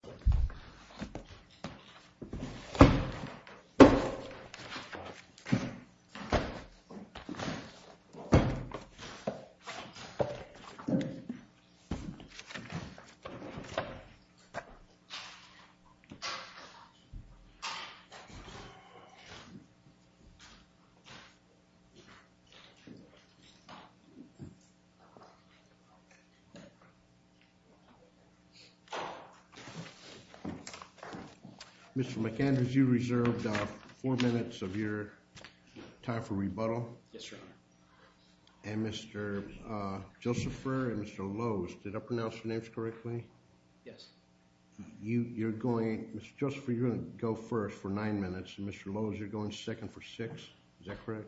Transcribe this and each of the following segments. Ericsson Inc. Mr. McAndrews, you reserved four minutes of your time for rebuttal. Yes, Your Honor. And Mr. Josepher and Mr. Lowes, did I pronounce your names correctly? Yes. You're going, Mr. Josepher, you're going to go first for nine minutes, and Mr. Lowes, you're going second for six. Is that correct?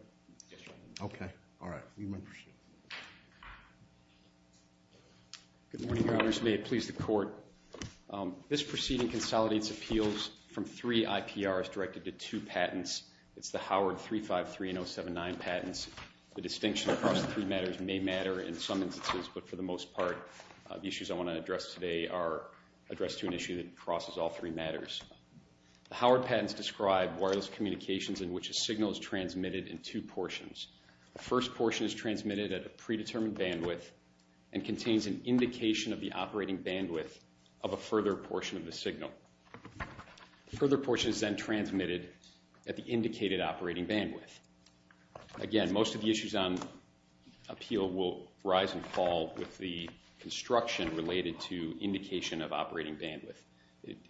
Yes, Your Honor. Okay. All right. You may proceed. Good morning, Your Honors. May it please the Court. This proceeding consolidates appeals from three IPRs directed to two patents. It's the Howard 353 and 079 patents. The distinction across the three matters may matter in some instances, but for the most part, the issues I want to address today are addressed to an issue that crosses all three matters. The Howard patents describe wireless communications in which a signal is transmitted in two portions. The first portion is transmitted at a predetermined bandwidth and contains an indication of the operating bandwidth of a further portion of the signal. The further portion is then transmitted at the indicated operating bandwidth. Again, most of the issues on appeal will rise and fall with the construction related to indication of operating bandwidth.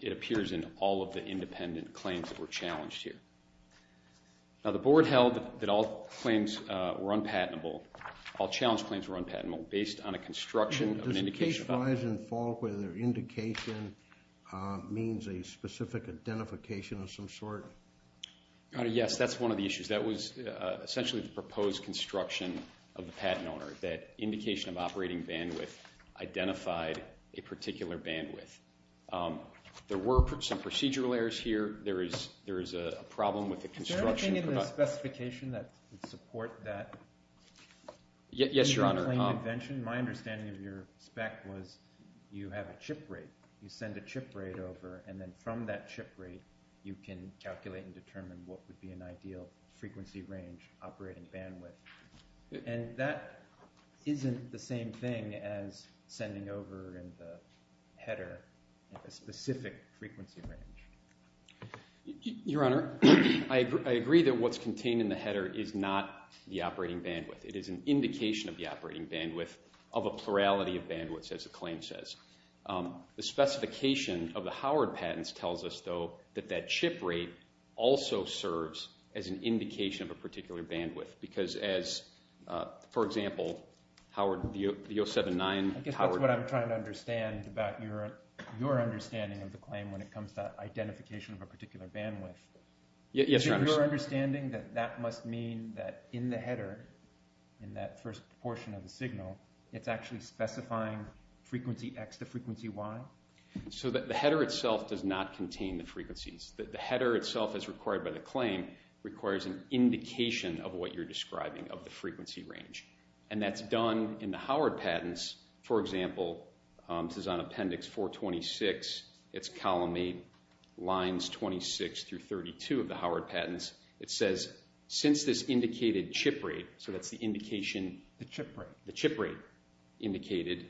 It appears in all of the independent claims that were challenged here. Now, the Board held that all claims were unpatentable, all challenge claims were unpatentable, based on a construction of an indication of operating bandwidth. Does it case rise and fall whether indication means a specific identification of some sort? Your Honor, yes, that's one of the issues. That was essentially the proposed construction of the patent owner, that indication of operating bandwidth identified a particular bandwidth. There were some procedural errors here. There is a problem with the construction. Is there a thing in the specification that would support that? Yes, Your Honor. My understanding of your spec was you have a chip rate. You send a chip rate over, and then from that chip rate, you can calculate and determine what would be an ideal frequency range operating bandwidth. And that isn't the same thing as sending over in the header a specific frequency range. Your Honor, I agree that what's contained in the header is not the operating bandwidth. It is an indication of the operating bandwidth of a plurality of bandwidths, as the claim says. The specification of the Howard patents tells us, though, that that chip rate also serves as an indication of a particular bandwidth because as, for example, Howard, the 079. I guess that's what I'm trying to understand about your understanding of the claim when it comes to identification of a particular bandwidth. Yes, Your Honor. Is it your understanding that that must mean that in the header, in that first portion of the signal, it's actually specifying frequency X to frequency Y? So the header itself does not contain the frequencies. The header itself, as required by the claim, requires an indication of what you're describing of the frequency range. And that's done in the Howard patents. For example, this is on Appendix 426. It's column 8, lines 26 through 32 of the Howard patents. It says, since this indicated chip rate, so that's the indication. The chip rate. The chip rate indicated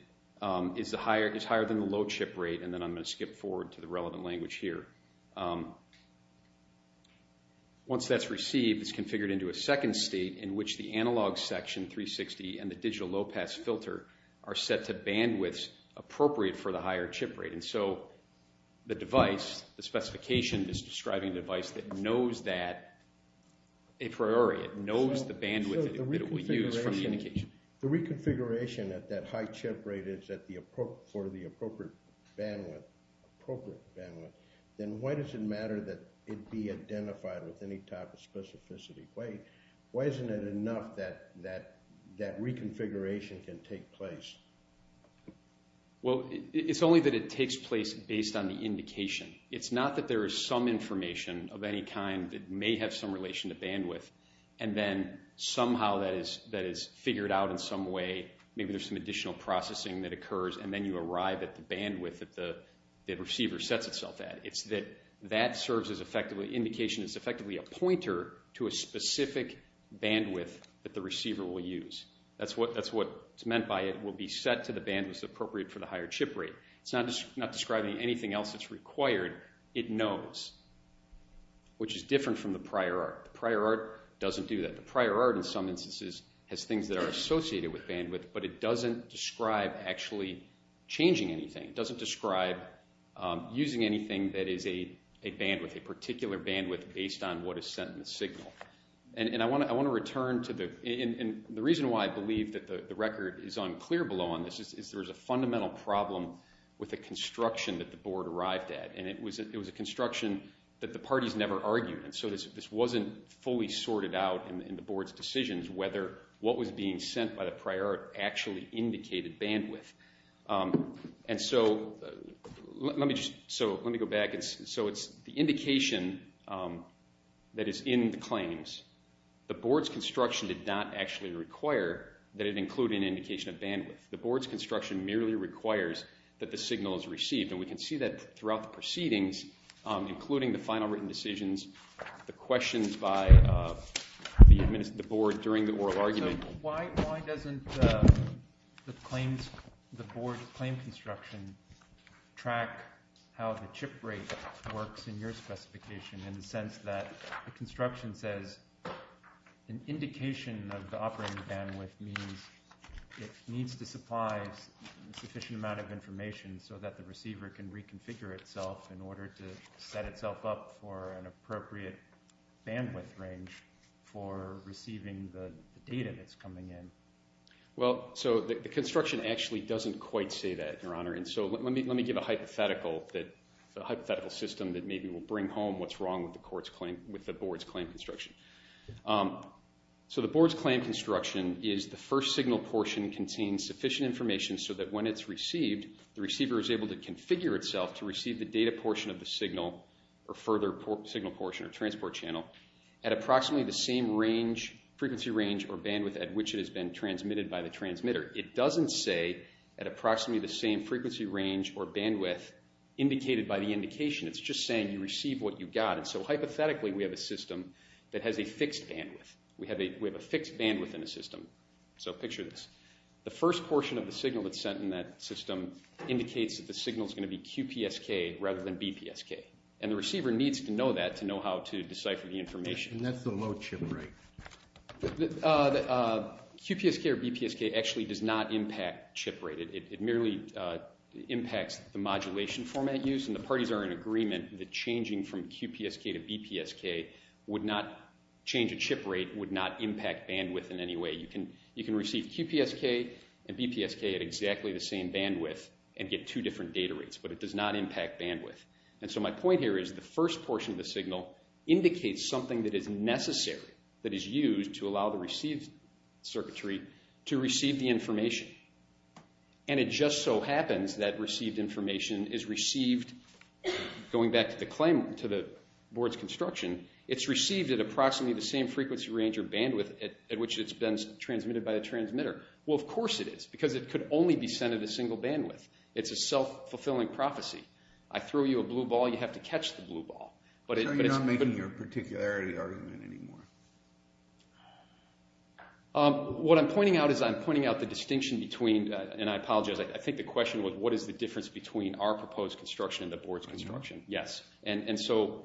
is higher than the low chip rate. And then I'm going to skip forward to the relevant language here. Once that's received, it's configured into a second state in which the analog section 360 and the digital low pass filter are set to bandwidths appropriate for the higher chip rate. And so the device, the specification, is describing the device that knows that a priori. It knows the bandwidth that it will use for the indication. If the reconfiguration at that high chip rate is for the appropriate bandwidth, then why does it matter that it be identified with any type of specificity? Why isn't it enough that reconfiguration can take place? Well, it's only that it takes place based on the indication. It's not that there is some information of any kind that may have some relation to bandwidth, and then somehow that is figured out in some way. Maybe there's some additional processing that occurs, and then you arrive at the bandwidth that the receiver sets itself at. It's that that serves as effectively indication. It's effectively a pointer to a specific bandwidth that the receiver will use. That's what's meant by it will be set to the bandwidth appropriate for the higher chip rate. It's not describing anything else that's required. It knows, which is different from the prior art. The prior art doesn't do that. The prior art, in some instances, has things that are associated with bandwidth, but it doesn't describe actually changing anything. It doesn't describe using anything that is a bandwidth, a particular bandwidth based on what is sent in the signal. I want to return to the reason why I believe that the record is unclear below on this is there is a fundamental problem with the construction that the board arrived at. It was a construction that the parties never argued, and so this wasn't fully sorted out in the board's decisions whether what was being sent by the prior art actually indicated bandwidth. Let me go back. It's the indication that is in the claims. The board's construction did not actually require that it include an indication of bandwidth. The board's construction merely requires that the signal is received, and we can see that throughout the proceedings, including the final written decisions, the questions by the board during the oral argument. Why doesn't the board's claim construction track how the chip rate works in your specification in the sense that the construction says an indication of the operating bandwidth means it needs to supply a sufficient amount of information so that the receiver can reconfigure itself in order to set itself up for an appropriate bandwidth range for receiving the data that's coming in? Well, so the construction actually doesn't quite say that, Your Honor, and so let me give a hypothetical system that maybe will bring home what's wrong with the board's claim construction. So the board's claim construction is the first signal portion contains sufficient information so that when it's received, the receiver is able to configure itself to receive the data portion of the signal or further signal portion or transport channel at approximately the same frequency range or bandwidth at which it has been transmitted by the transmitter. It doesn't say at approximately the same frequency range or bandwidth indicated by the indication. It's just saying you receive what you got, and so hypothetically, we have a system that has a fixed bandwidth. We have a fixed bandwidth in the system, so picture this. The first portion of the signal that's sent in that system indicates that the signal's going to be QPSK rather than BPSK, and the receiver needs to know that to know how to decipher the information. And that's the low chip rate. QPSK or BPSK actually does not impact chip rate. It merely impacts the modulation format used, and the parties are in agreement that changing from QPSK to BPSK would not impact bandwidth in any way. You can receive QPSK and BPSK at exactly the same bandwidth and get two different data rates, but it does not impact bandwidth. And so my point here is the first portion of the signal indicates something that is necessary that is used to allow the received circuitry to receive the information. And it just so happens that received information is received going back to the board's construction. It's received at approximately the same frequency range or bandwidth at which it's been transmitted by the transmitter. Well, of course it is because it could only be sent at a single bandwidth. It's a self-fulfilling prophecy. I throw you a blue ball, you have to catch the blue ball. So you're not making your particularity argument anymore? What I'm pointing out is I'm pointing out the distinction between, and I apologize, I think the question was what is the difference between our proposed construction and the board's construction. Yes. And so,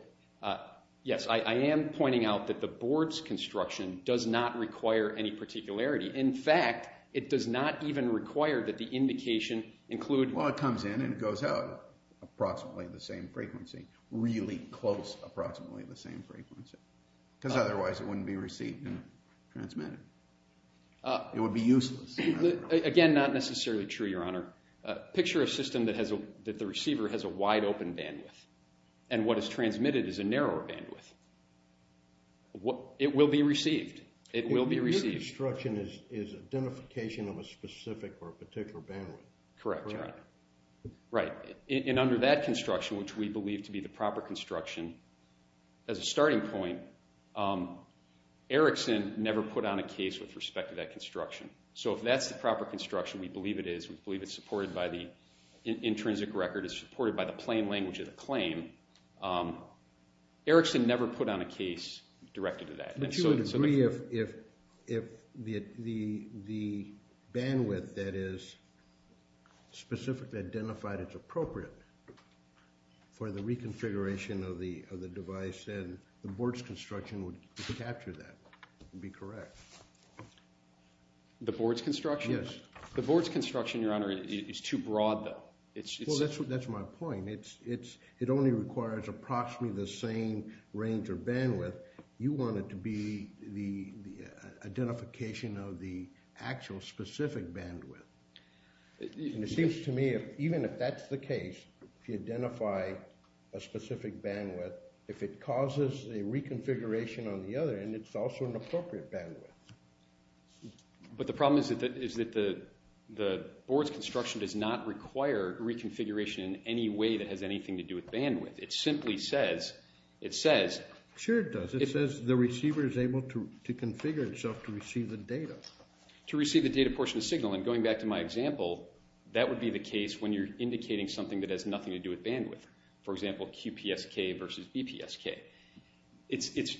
yes, I am pointing out that the board's construction does not require any particularity. In fact, it does not even require that the indication include… Well, it comes in and it goes out approximately the same frequency, really close approximately the same frequency because otherwise it wouldn't be received and transmitted. It would be useless. Again, not necessarily true, Your Honor. Picture a system that the receiver has a wide open bandwidth and what is transmitted is a narrower bandwidth. It will be received. It will be received. Your construction is identification of a specific or a particular bandwidth. Correct, Your Honor. Right. And under that construction, which we believe to be the proper construction, as a starting point, Erickson never put on a case with respect to that construction. So if that's the proper construction, we believe it is, we believe it's supported by the intrinsic record, it's supported by the plain language of the claim, Erickson never put on a case directed to that. But you would agree if the bandwidth that is specifically identified as appropriate for the reconfiguration of the device and the board's construction would capture that and be correct? The board's construction? Yes. The board's construction, Your Honor, is too broad though. Well, that's my point. It only requires approximately the same range of bandwidth. You want it to be the identification of the actual specific bandwidth. And it seems to me, even if that's the case, if you identify a specific bandwidth, if it causes a reconfiguration on the other end, it's also an appropriate bandwidth. But the problem is that the board's construction does not require reconfiguration in any way that has anything to do with bandwidth. Sure it does. It says the receiver is able to configure itself to receive the data. To receive the data portion of the signal. And going back to my example, that would be the case when you're indicating something that has nothing to do with bandwidth. For example, QPSK versus BPSK.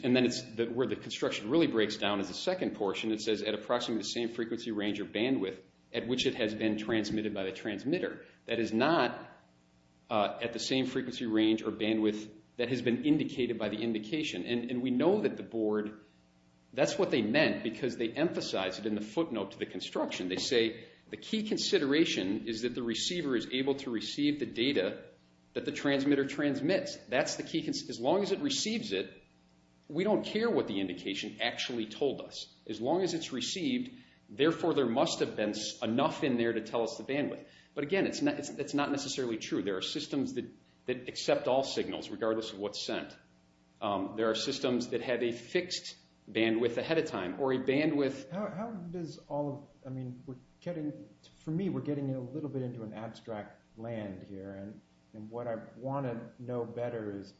And then where the construction really breaks down is the second portion. It says at approximately the same frequency range or bandwidth at which it has been transmitted by the transmitter. That is not at the same frequency range or bandwidth that has been indicated by the indication. And we know that the board, that's what they meant because they emphasized it in the footnote to the construction. They say the key consideration is that the receiver is able to receive the data that the transmitter transmits. That's the key. As long as it receives it, we don't care what the indication actually told us. As long as it's received, therefore there must have been enough in there to tell us the bandwidth. But again, it's not necessarily true. There are systems that accept all signals regardless of what's sent. There are systems that have a fixed bandwidth ahead of time or a bandwidth... How does all of, I mean, we're getting, for me, we're getting a little bit into an abstract land here. And what I want to know better is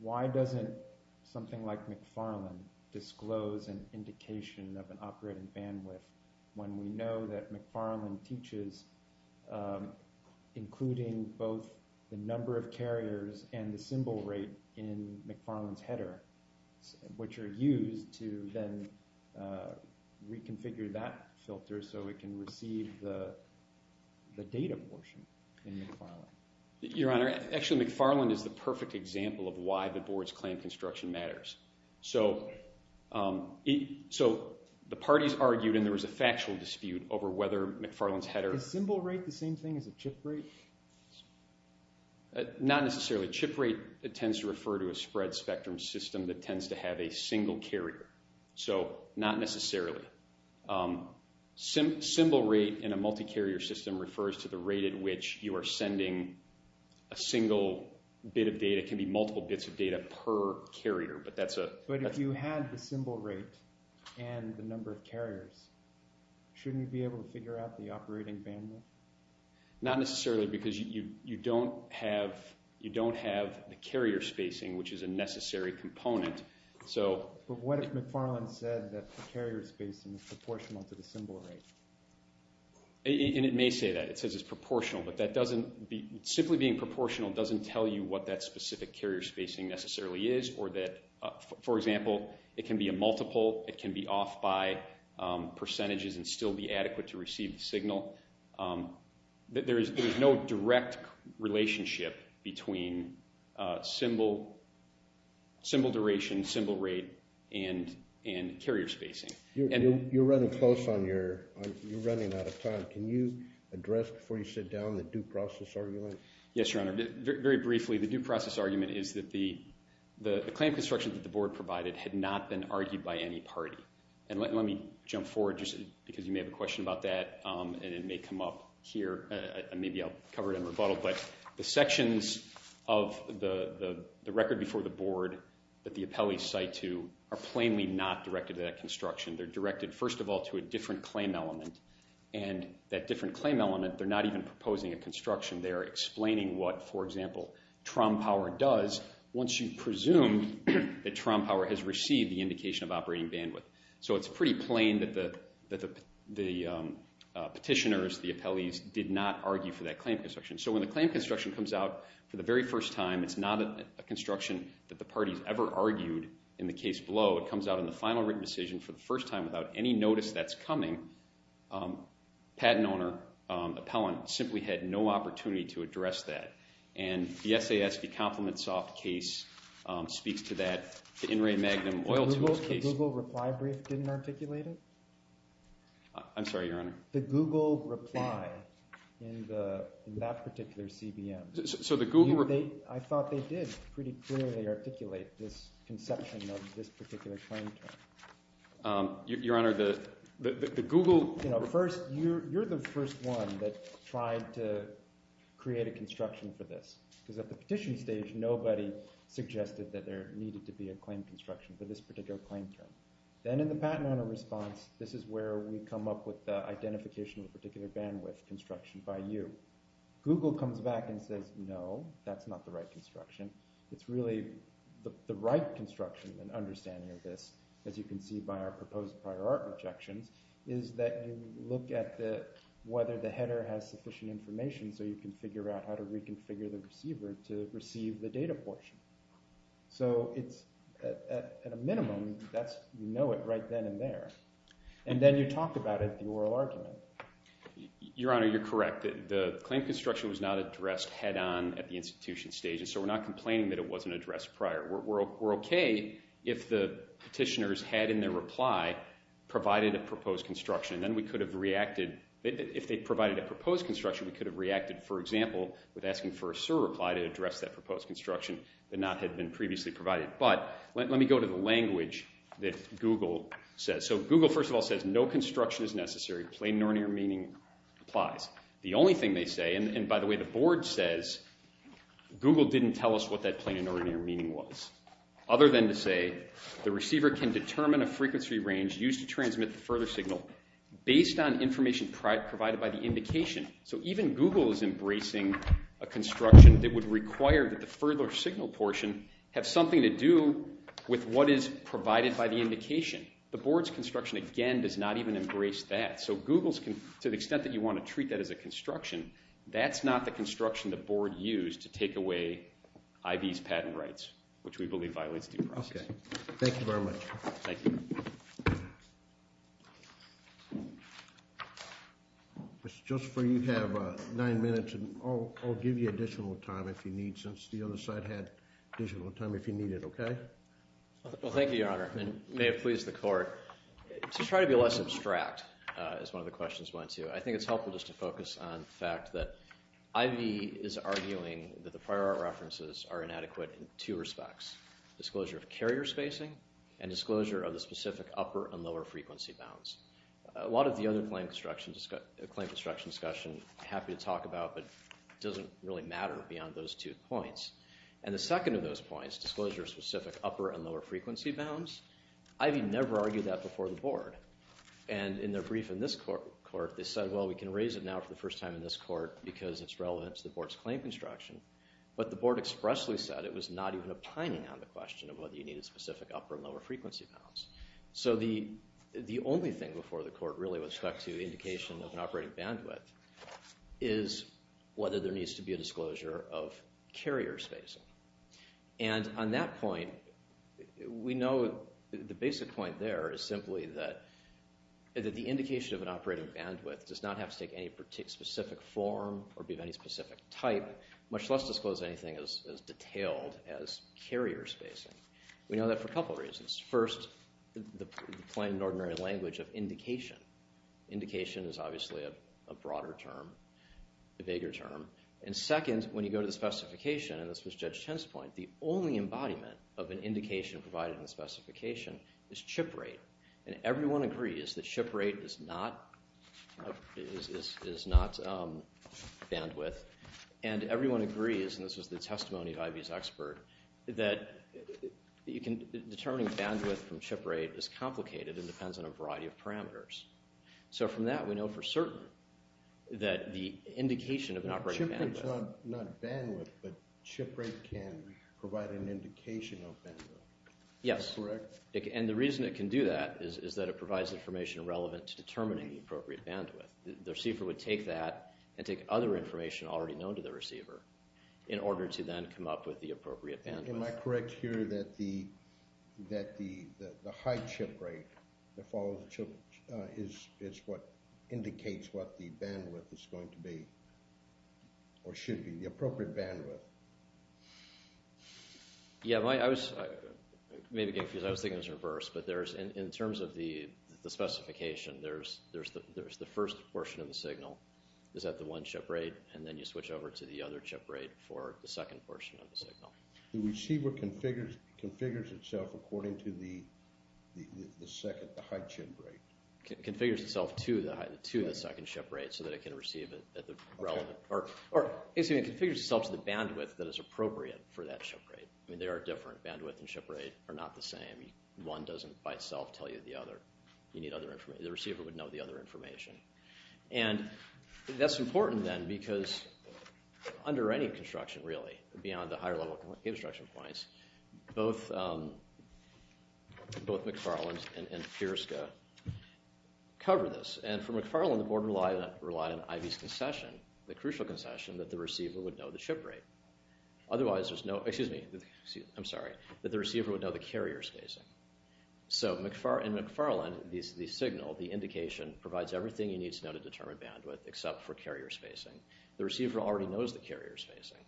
why doesn't something like McFarland disclose an indication of an operating bandwidth when we know that McFarland teaches including both the number of carriers and the symbol rate in McFarland's header, which are used to then reconfigure that filter so it can receive the data portion in McFarland. Your Honor, actually McFarland is the perfect example of why the board's claim construction matters. So the parties argued and there was a factual dispute over whether McFarland's header... Is symbol rate the same thing as a chip rate? Not necessarily. Chip rate tends to refer to a spread spectrum system that tends to have a single carrier. So not necessarily. Symbol rate in a multi-carrier system refers to the rate at which you are sending a single bit of data. It can be multiple bits of data per carrier, but that's a... But if you had the symbol rate and the number of carriers, shouldn't you be able to figure out the operating bandwidth? Not necessarily because you don't have the carrier spacing, which is a necessary component. But what if McFarland said that the carrier spacing is proportional to the symbol rate? And it may say that. It says it's proportional, but that doesn't... Simply being proportional doesn't tell you what that specific carrier spacing necessarily is or that... For example, it can be a multiple, it can be off by percentages and still be adequate to receive the signal. There is no direct relationship between symbol duration, symbol rate, and carrier spacing. You're running close on your... You're running out of time. Can you address before you sit down the due process argument? Yes, Your Honor. Very briefly, the due process argument is that the claim construction that the board provided had not been argued by any party. And let me jump forward just because you may have a question about that, and it may come up here. Maybe I'll cover it in rebuttal, but the sections of the record before the board that the appellees cite to are plainly not directed to that construction. They're directed, first of all, to a different claim element. And that different claim element, they're not even proposing a construction. They are explaining what, for example, Trom Power does once you presume that Trom Power has received the indication of operating bandwidth. So it's pretty plain that the petitioners, the appellees, did not argue for that claim construction. So when the claim construction comes out for the very first time, it's not a construction that the parties ever argued in the case below. It comes out in the final written decision for the first time without any notice that's coming. Patent owner, appellant, simply had no opportunity to address that. And the SASV Compliment Soft case speaks to that. The Google reply brief didn't articulate it? I'm sorry, Your Honor. The Google reply in that particular CBM. I thought they did pretty clearly articulate this conception of this particular claim term. Your Honor, the Google – First, you're the first one that tried to create a construction for this. Because at the petition stage, nobody suggested that there needed to be a claim construction for this particular claim term. Then in the patent owner response, this is where we come up with the identification of a particular bandwidth construction by you. Google comes back and says, no, that's not the right construction. It's really the right construction and understanding of this, as you can see by our proposed prior art objections, is that you look at whether the header has sufficient information so you can figure out how to reconfigure the receiver to receive the data portion. So it's – at a minimum, that's – you know it right then and there. And then you talk about it, the oral argument. Your Honor, you're correct. The claim construction was not addressed head on at the institution stage, and so we're not complaining that it wasn't addressed prior. We're okay if the petitioners had in their reply provided a proposed construction. Then we could have reacted – if they provided a proposed construction, we could have reacted, for example, with asking for a SIR reply to address that proposed construction that not had been previously provided. But let me go to the language that Google says. So Google, first of all, says no construction is necessary. Plain and ordinary meaning applies. The only thing they say – and by the way, the board says Google didn't tell us what that plain and ordinary meaning was, other than to say the receiver can determine a frequency range used to transmit the further signal based on information provided by the indication. So even Google is embracing a construction that would require that the further signal portion have something to do with what is provided by the indication. The board's construction, again, does not even embrace that. So Google's – to the extent that you want to treat that as a construction, that's not the construction the board used to take away IV's patent rights, which we believe violates due process. Okay. Thank you very much. Thank you. Mr. Joseph, you have nine minutes, and I'll give you additional time if you need since the other side had additional time if you need it, okay? Well, thank you, Your Honor, and may it please the court. To try to be less abstract, as one of the questions went to, I think it's helpful just to focus on the fact that IV is arguing that the prior art references are inadequate in two respects. Disclosure of carrier spacing and disclosure of the specific upper and lower frequency bounds. A lot of the other claim construction discussion I'm happy to talk about, but it doesn't really matter beyond those two points. And the second of those points, disclosure of specific upper and lower frequency bounds, IV never argued that before the board. And in their brief in this court, they said, well, we can raise it now for the first time in this court because it's relevant to the board's claim construction. But the board expressly said it was not even opining on the question of whether you needed specific upper and lower frequency bounds. So the only thing before the court really with respect to indication of an operating bandwidth is whether there needs to be a disclosure of carrier spacing. And on that point, we know the basic point there is simply that the indication of an operating bandwidth does not have to take any specific form or be of any specific type, much less disclose anything as detailed as carrier spacing. We know that for a couple of reasons. First, the plain and ordinary language of indication. Indication is obviously a broader term, a bigger term. And second, when you go to the specification, and this was Judge Chen's point, the only embodiment of an indication provided in the specification is chip rate. And everyone agrees that chip rate is not bandwidth. And everyone agrees, and this was the testimony of Ivy's expert, that determining bandwidth from chip rate is complicated and depends on a variety of parameters. So from that, we know for certain that the indication of an operating bandwidth— Chip rate's not bandwidth, but chip rate can provide an indication of bandwidth. Yes. Is this correct? And the reason it can do that is that it provides information relevant to determining the appropriate bandwidth. The receiver would take that and take other information already known to the receiver in order to then come up with the appropriate bandwidth. Am I correct here that the high chip rate that follows the chip is what indicates what the bandwidth is going to be or should be, the appropriate bandwidth? Yeah, I was thinking it was reversed. But in terms of the specification, there's the first portion of the signal is at the one chip rate, and then you switch over to the other chip rate for the second portion of the signal. The receiver configures itself according to the second, the high chip rate. It configures itself to the second chip rate so that it can receive it at the relevant— Or it configures itself to the bandwidth that is appropriate for that chip rate. I mean, they are different. Bandwidth and chip rate are not the same. One doesn't by itself tell you the other. You need other information. The receiver would know the other information. And that's important, then, because under any construction, really, beyond the higher-level construction points, both McFarland and PIERSCA cover this. And for McFarland, the board relied on IV's concession, the crucial concession, that the receiver would know the chip rate. Otherwise, there's no—excuse me. I'm sorry. That the receiver would know the carrier spacing. So in McFarland, the signal, the indication, provides everything you need to know to determine bandwidth except for carrier spacing. The receiver already knows the carrier spacing.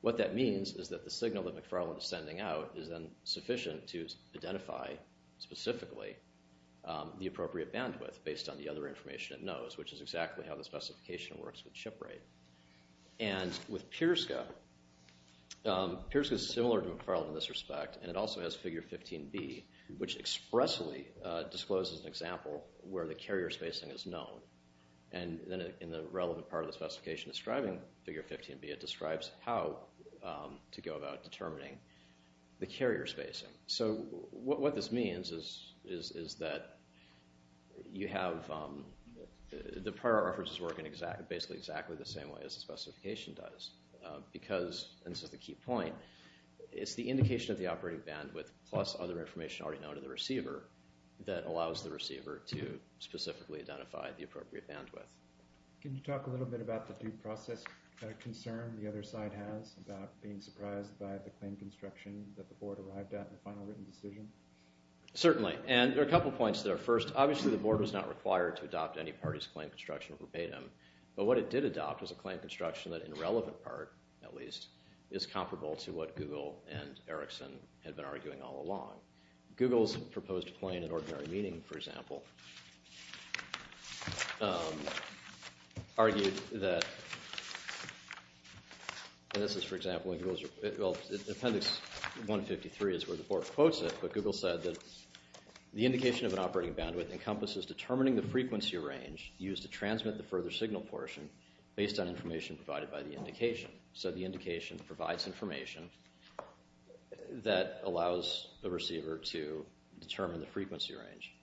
What that means is that the signal that McFarland is sending out is then sufficient to identify specifically the appropriate bandwidth based on the other information it knows, which is exactly how the specification works with chip rate. And with PIERSCA, PIERSCA is similar to McFarland in this respect, and it also has Figure 15B, which expressly discloses an example where the carrier spacing is known. And then in the relevant part of the specification describing Figure 15B, it describes how to go about determining the carrier spacing. So what this means is that you have—the prior references work in basically exactly the same way as the specification does. Because—and this is the key point—it's the indication of the operating bandwidth plus other information already known to the receiver that allows the receiver to specifically identify the appropriate bandwidth. Can you talk a little bit about the due process concern the other side has about being surprised by the claim construction that the board arrived at in the final written decision? Certainly. And there are a couple points there. First, obviously the board was not required to adopt any party's claim construction verbatim. But what it did adopt was a claim construction that in the relevant part, at least, is comparable to what Google and Erickson had been arguing all along. Google's proposed claim in ordinary meaning, for example, argued that—and this is, for example, in Google's—well, Appendix 153 is where the board quotes it, but Google said that the indication of an operating bandwidth encompasses determining the frequency range used to transmit the further signal portion based on information provided by the indication. So the indication provides information that allows the receiver to determine the frequency range.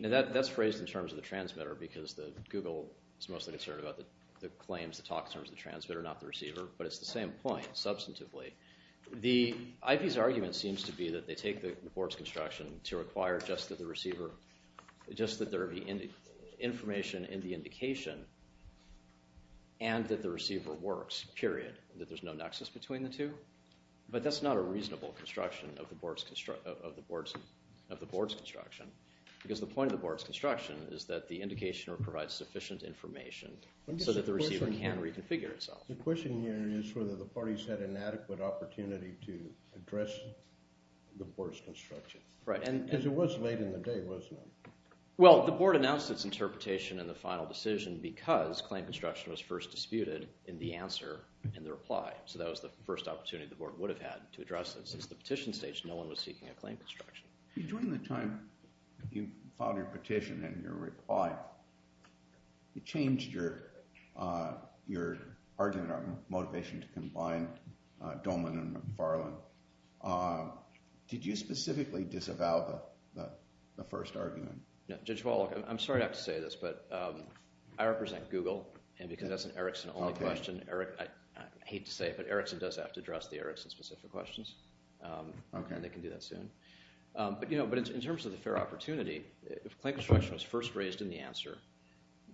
Now, that's phrased in terms of the transmitter because Google is mostly concerned about the claims, the talk in terms of the transmitter, not the receiver. But it's the same point, substantively. The IP's argument seems to be that they take the board's construction to require just that there be information in the indication and that the receiver works, period, that there's no nexus between the two. But that's not a reasonable construction of the board's construction because the point of the board's construction is that the indicator provides sufficient information so that the receiver can reconfigure itself. The question here is whether the parties had an adequate opportunity to address the board's construction because it was late in the day, wasn't it? Well, the board announced its interpretation in the final decision because claim construction was first disputed in the answer in the reply. So that was the first opportunity the board would have had to address it. Since the petition stage, no one was seeking a claim construction. During the time you filed your petition and your reply, you changed your argument on motivation to combine Dolman and McFarland. Did you specifically disavow the first argument? Judge Wallach, I'm sorry to have to say this, but I represent Google, and because that's an Erickson-only question, I hate to say it, but Erickson does have to address the Erickson-specific questions. They can do that soon. But in terms of the fair opportunity, if claim construction was first raised in the answer,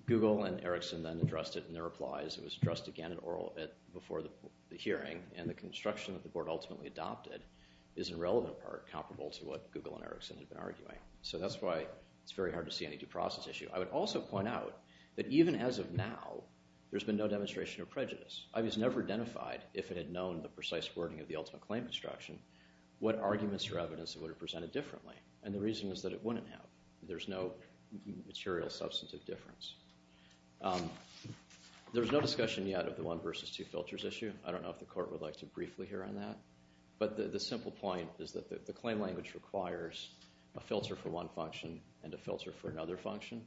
Google and Erickson then addressed it in their replies. It was addressed again in oral before the hearing, and the construction that the board ultimately adopted is in relevant part comparable to what Google and Erickson had been arguing. So that's why it's very hard to see any due process issue. I would also point out that even as of now, there's been no demonstration of prejudice. It was never identified, if it had known the precise wording of the ultimate claim construction, what arguments or evidence that would have presented differently, and the reason is that it wouldn't have. There's no material substantive difference. There's no discussion yet of the one versus two filters issue. I don't know if the court would like to briefly hear on that, but the simple point is that the claim language requires a filter for one function and a filter for another function.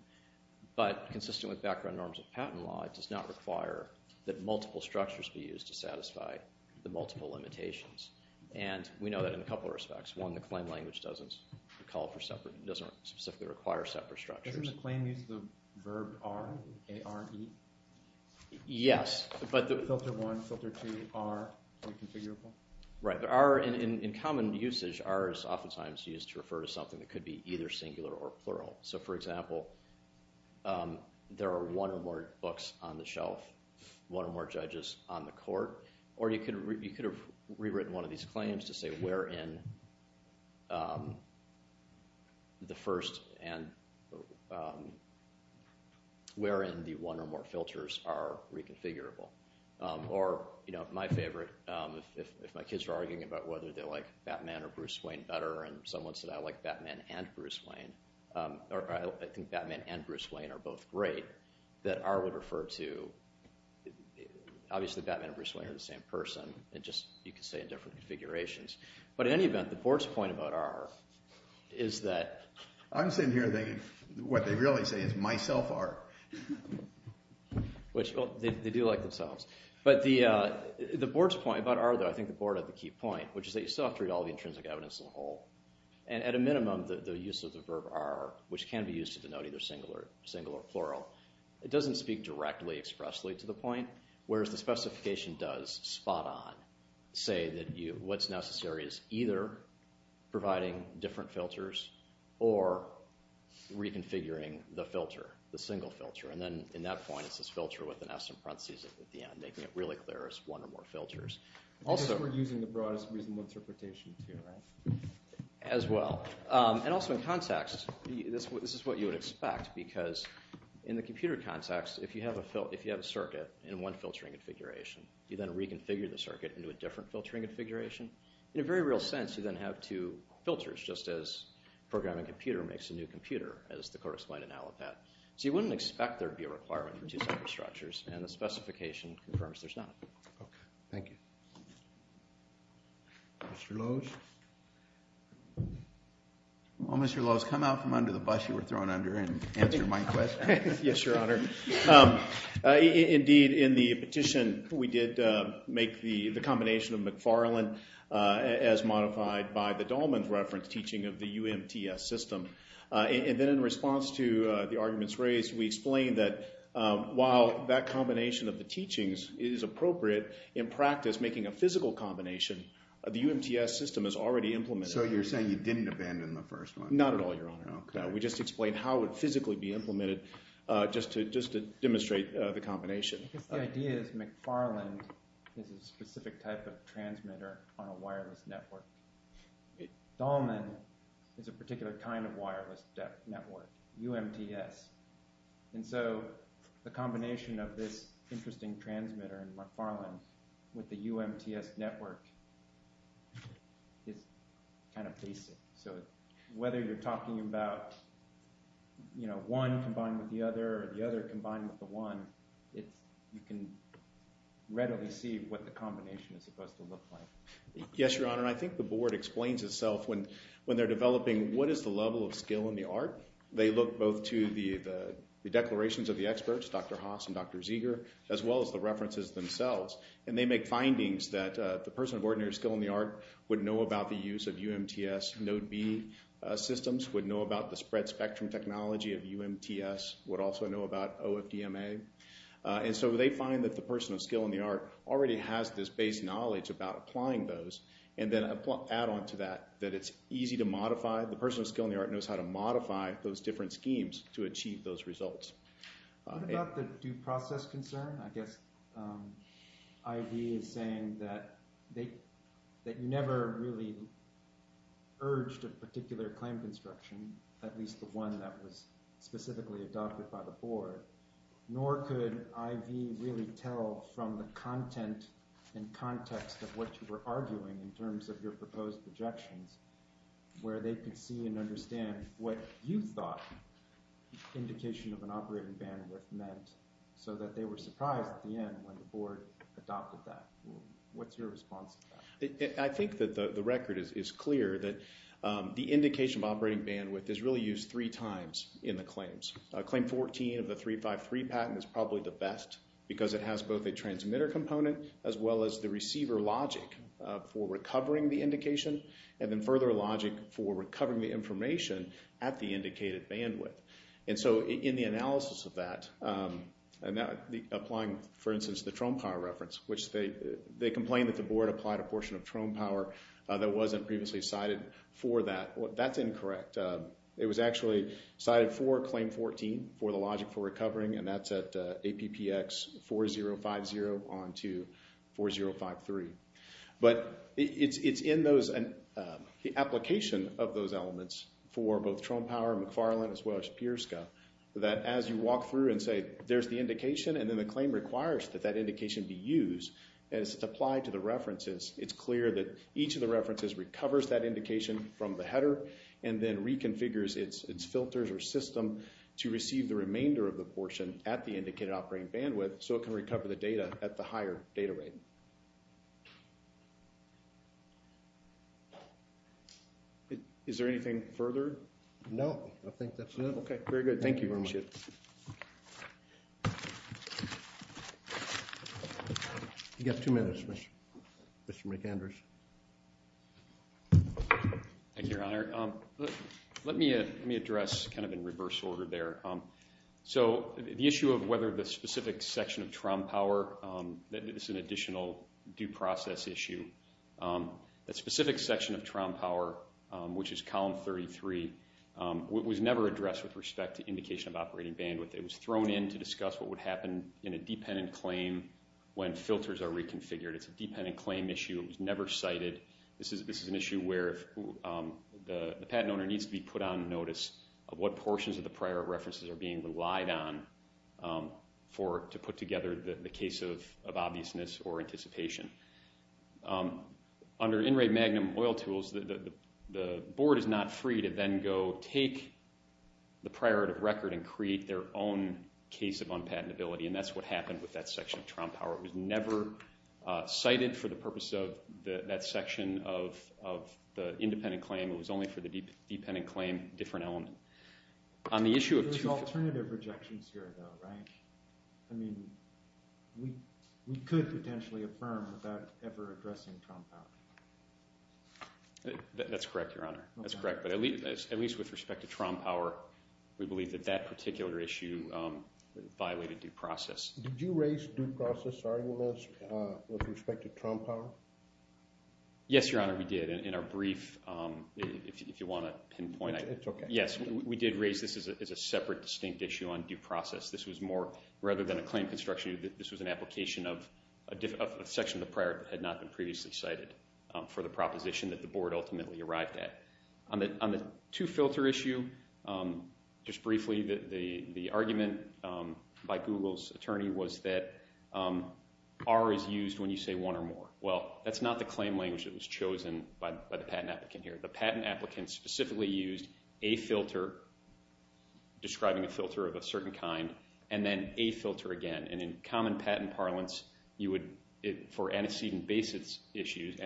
But consistent with background norms of patent law, it does not require that multiple structures be used to satisfy the multiple limitations. And we know that in a couple of respects. One, the claim language doesn't specifically require separate structures. Doesn't the claim use the verb are, A-R-E? Yes. Filter one, filter two, are reconfigurable? Right. In common usage, are is oftentimes used to refer to something that could be either singular or plural. So, for example, there are one or more books on the shelf, one or more judges on the court. Or you could have rewritten one of these claims to say where in the first and where in the one or more filters are reconfigurable. Or my favorite, if my kids are arguing about whether they like Batman or Bruce Wayne better and someone said I like Batman and Bruce Wayne, or I think Batman and Bruce Wayne are both great, that R would refer to. Obviously, Batman and Bruce Wayne are the same person. It's just you could say in different configurations. But in any event, the board's point about R is that – I'm sitting here thinking what they really say is myself R. Which, well, they do like themselves. But the board's point about R, though, I think the board had the key point, which is that you still have to read all the intrinsic evidence in the whole. And at a minimum, the use of the verb are, which can be used to denote either singular or plural, it doesn't speak directly expressly to the point. Whereas the specification does spot on say that what's necessary is either providing different filters or reconfiguring the filter, the single filter. And then in that point, it's this filter with an S in parentheses at the end, making it really clear as one or more filters. We're using the broadest reasonable interpretation here, right? As well. And also in context, this is what you would expect. Because in the computer context, if you have a circuit in one filtering configuration, you then reconfigure the circuit into a different filtering configuration. In a very real sense, you then have two filters, just as a programming computer makes a new computer, as the court explained it now with that. So you wouldn't expect there to be a requirement for two separate structures, and the specification confirms there's not. Okay, thank you. Mr. Lowes? Well, Mr. Lowes, come out from under the bus you were thrown under and answer my question. Yes, Your Honor. Indeed, in the petition, we did make the combination of McFarland as modified by the Dahlman's reference teaching of the UMTS system. And then in response to the arguments raised, we explained that while that combination of the teachings is appropriate in practice, making a physical combination, the UMTS system is already implemented. So you're saying you didn't abandon the first one? Not at all, Your Honor. Okay. We just explained how it would physically be implemented just to demonstrate the combination. The idea is McFarland is a specific type of transmitter on a wireless network. Dahlman is a particular kind of wireless network, UMTS. And so the combination of this interesting transmitter in McFarland with the UMTS network is kind of basic. So whether you're talking about one combined with the other or the other combined with the one, you can readily see what the combination is supposed to look like. Yes, Your Honor. And I think the board explains itself when they're developing what is the level of skill in the art. They look both to the declarations of the experts, Dr. Haas and Dr. Zeger, as well as the references themselves. And they make findings that the person of ordinary skill in the art would know about the use of UMTS node B systems, would know about the spread spectrum technology of UMTS, would also know about OFDMA. And so they find that the person of skill in the art already has this base knowledge about applying those and then add on to that that it's easy to modify. The person of skill in the art knows how to modify those different schemes to achieve those results. What about the due process concern? I guess I.D. is saying that they never really urged a particular claim construction, at least the one that was specifically adopted by the board. Nor could I.D. really tell from the content and context of what you were arguing in terms of your proposed projections where they could see and understand what you thought indication of an operating bandwidth meant so that they were surprised at the end when the board adopted that. What's your response to that? I think that the record is clear that the indication of operating bandwidth is really used three times in the claims. Claim 14 of the 353 patent is probably the best because it has both a transmitter component as well as the receiver logic for recovering the indication and then further logic for recovering the information at the indicated bandwidth. In the analysis of that, applying, for instance, the Trone Power reference, which they complain that the board applied a portion of Trone Power that wasn't previously cited for that. That's incorrect. It was actually cited for Claim 14 for the logic for recovering, and that's at APPX 4050 on to 4053. But it's in the application of those elements for both Trone Power, McFarland, as well as Peerska that as you walk through and say there's the indication and then the claim requires that that indication be used and it's applied to the references, it's clear that each of the references recovers that indication from the header and then reconfigures its filters or system to receive the remainder of the portion at the indicated operating bandwidth so it can recover the data at the higher data rate. Is there anything further? No, I think that's it. Okay, very good. Thank you very much. You get two minutes, Mr. McAndrews. Thank you, Your Honor. Let me address kind of in reverse order there. So the issue of whether the specific section of Trone Power, this is an additional due process issue. The specific section of Trone Power, which is column 33, was never addressed with respect to indication of operating bandwidth. It was thrown in to discuss what would happen in a dependent claim when filters are reconfigured. It's a dependent claim issue. It was never cited. This is an issue where the patent owner needs to be put on notice of what portions of the prior references are being relied on to put together the case of obviousness or anticipation. Under in-rate magnum oil tools, the board is not free to then go take the prior record and create their own case of unpatentability, and that's what happened with that section of Trone Power. It was never cited for the purpose of that section of the independent claim. It was only for the dependent claim, different element. There's alternative rejections here, though, right? I mean, we could potentially affirm without ever addressing Trone Power. That's correct, Your Honor. That's correct. But at least with respect to Trone Power, we believe that that particular issue violated due process. Did you raise due process arguments with respect to Trone Power? Yes, Your Honor, we did. In our brief, if you want to pinpoint it. It's okay. Yes, we did raise this as a separate, distinct issue on due process. This was more, rather than a claim construction, this was an application of a section of the prior that had not been previously cited for the proposition that the board ultimately arrived at. On the two-filter issue, just briefly, the argument by Google's attorney was that R is used when you say one or more. Well, that's not the claim language that was chosen by the patent applicant here. The patent applicant specifically used a filter describing a filter of a certain kind and then a filter again. And in common patent parlance, for antecedent basis issues,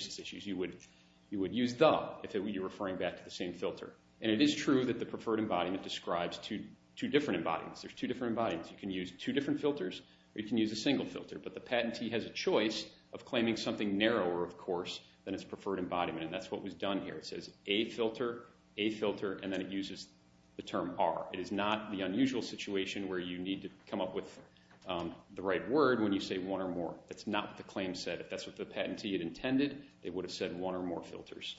you would use the if you're referring back to the same filter. And it is true that the preferred embodiment describes two different embodiments. There's two different embodiments. You can use two different filters or you can use a single filter. But the patentee has a choice of claiming something narrower, of course, than its preferred embodiment. And that's what was done here. It says a filter, a filter, and then it uses the term R. It is not the unusual situation where you need to come up with the right word when you say one or more. That's not what the claim said. If that's what the patentee had intended, they would have said one or more filters.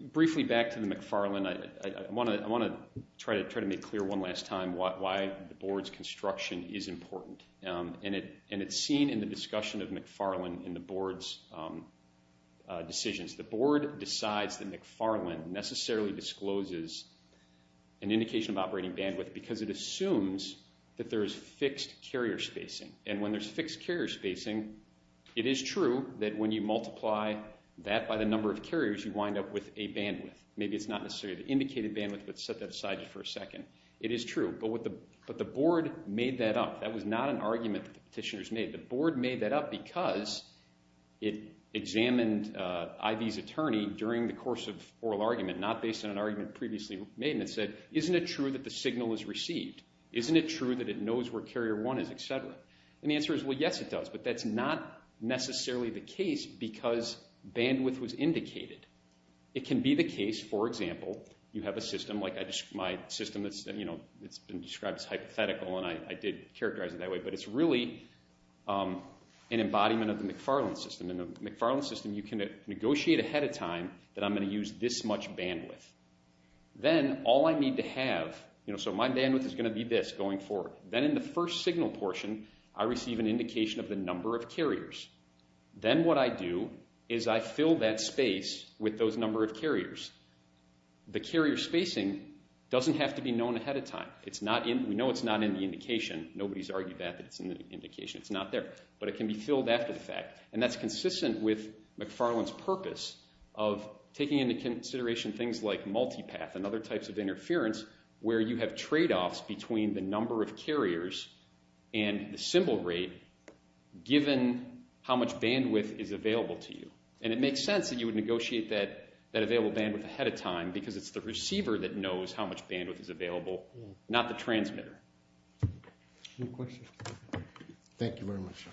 Briefly back to the McFarland, I want to try to make clear one last time why the board's construction is important. And it's seen in the discussion of McFarland in the board's decisions. The board decides that McFarland necessarily discloses an indication of operating bandwidth because it assumes that there is fixed carrier spacing. And when there's fixed carrier spacing, it is true that when you multiply that by the number of carriers, you wind up with a bandwidth. Maybe it's not necessarily the indicated bandwidth, but set that aside for a second. It is true. But the board made that up. That was not an argument that the petitioners made. The board made that up because it examined I.V.'s attorney during the course of oral argument, not based on an argument previously made. And it said, isn't it true that the signal is received? Isn't it true that it knows where carrier one is, et cetera? And the answer is, well, yes, it does. But that's not necessarily the case because bandwidth was indicated. It can be the case, for example, you have a system like my system that's been described as hypothetical. And I did characterize it that way. But it's really an embodiment of the McFarland system. In the McFarland system, you can negotiate ahead of time that I'm going to use this much bandwidth. Then all I need to have, so my bandwidth is going to be this going forward. Then in the first signal portion, I receive an indication of the number of carriers. Then what I do is I fill that space with those number of carriers. The carrier spacing doesn't have to be known ahead of time. We know it's not in the indication. Nobody's argued that it's in the indication. It's not there. But it can be filled after the fact. And that's consistent with McFarland's purpose of taking into consideration things like multipath and other types of interference where you have tradeoffs between the number of carriers and the symbol rate given how much bandwidth is available to you. And it makes sense that you would negotiate that available bandwidth ahead of time because it's the receiver that knows how much bandwidth is available, not the transmitter. Any questions? Thank you very much.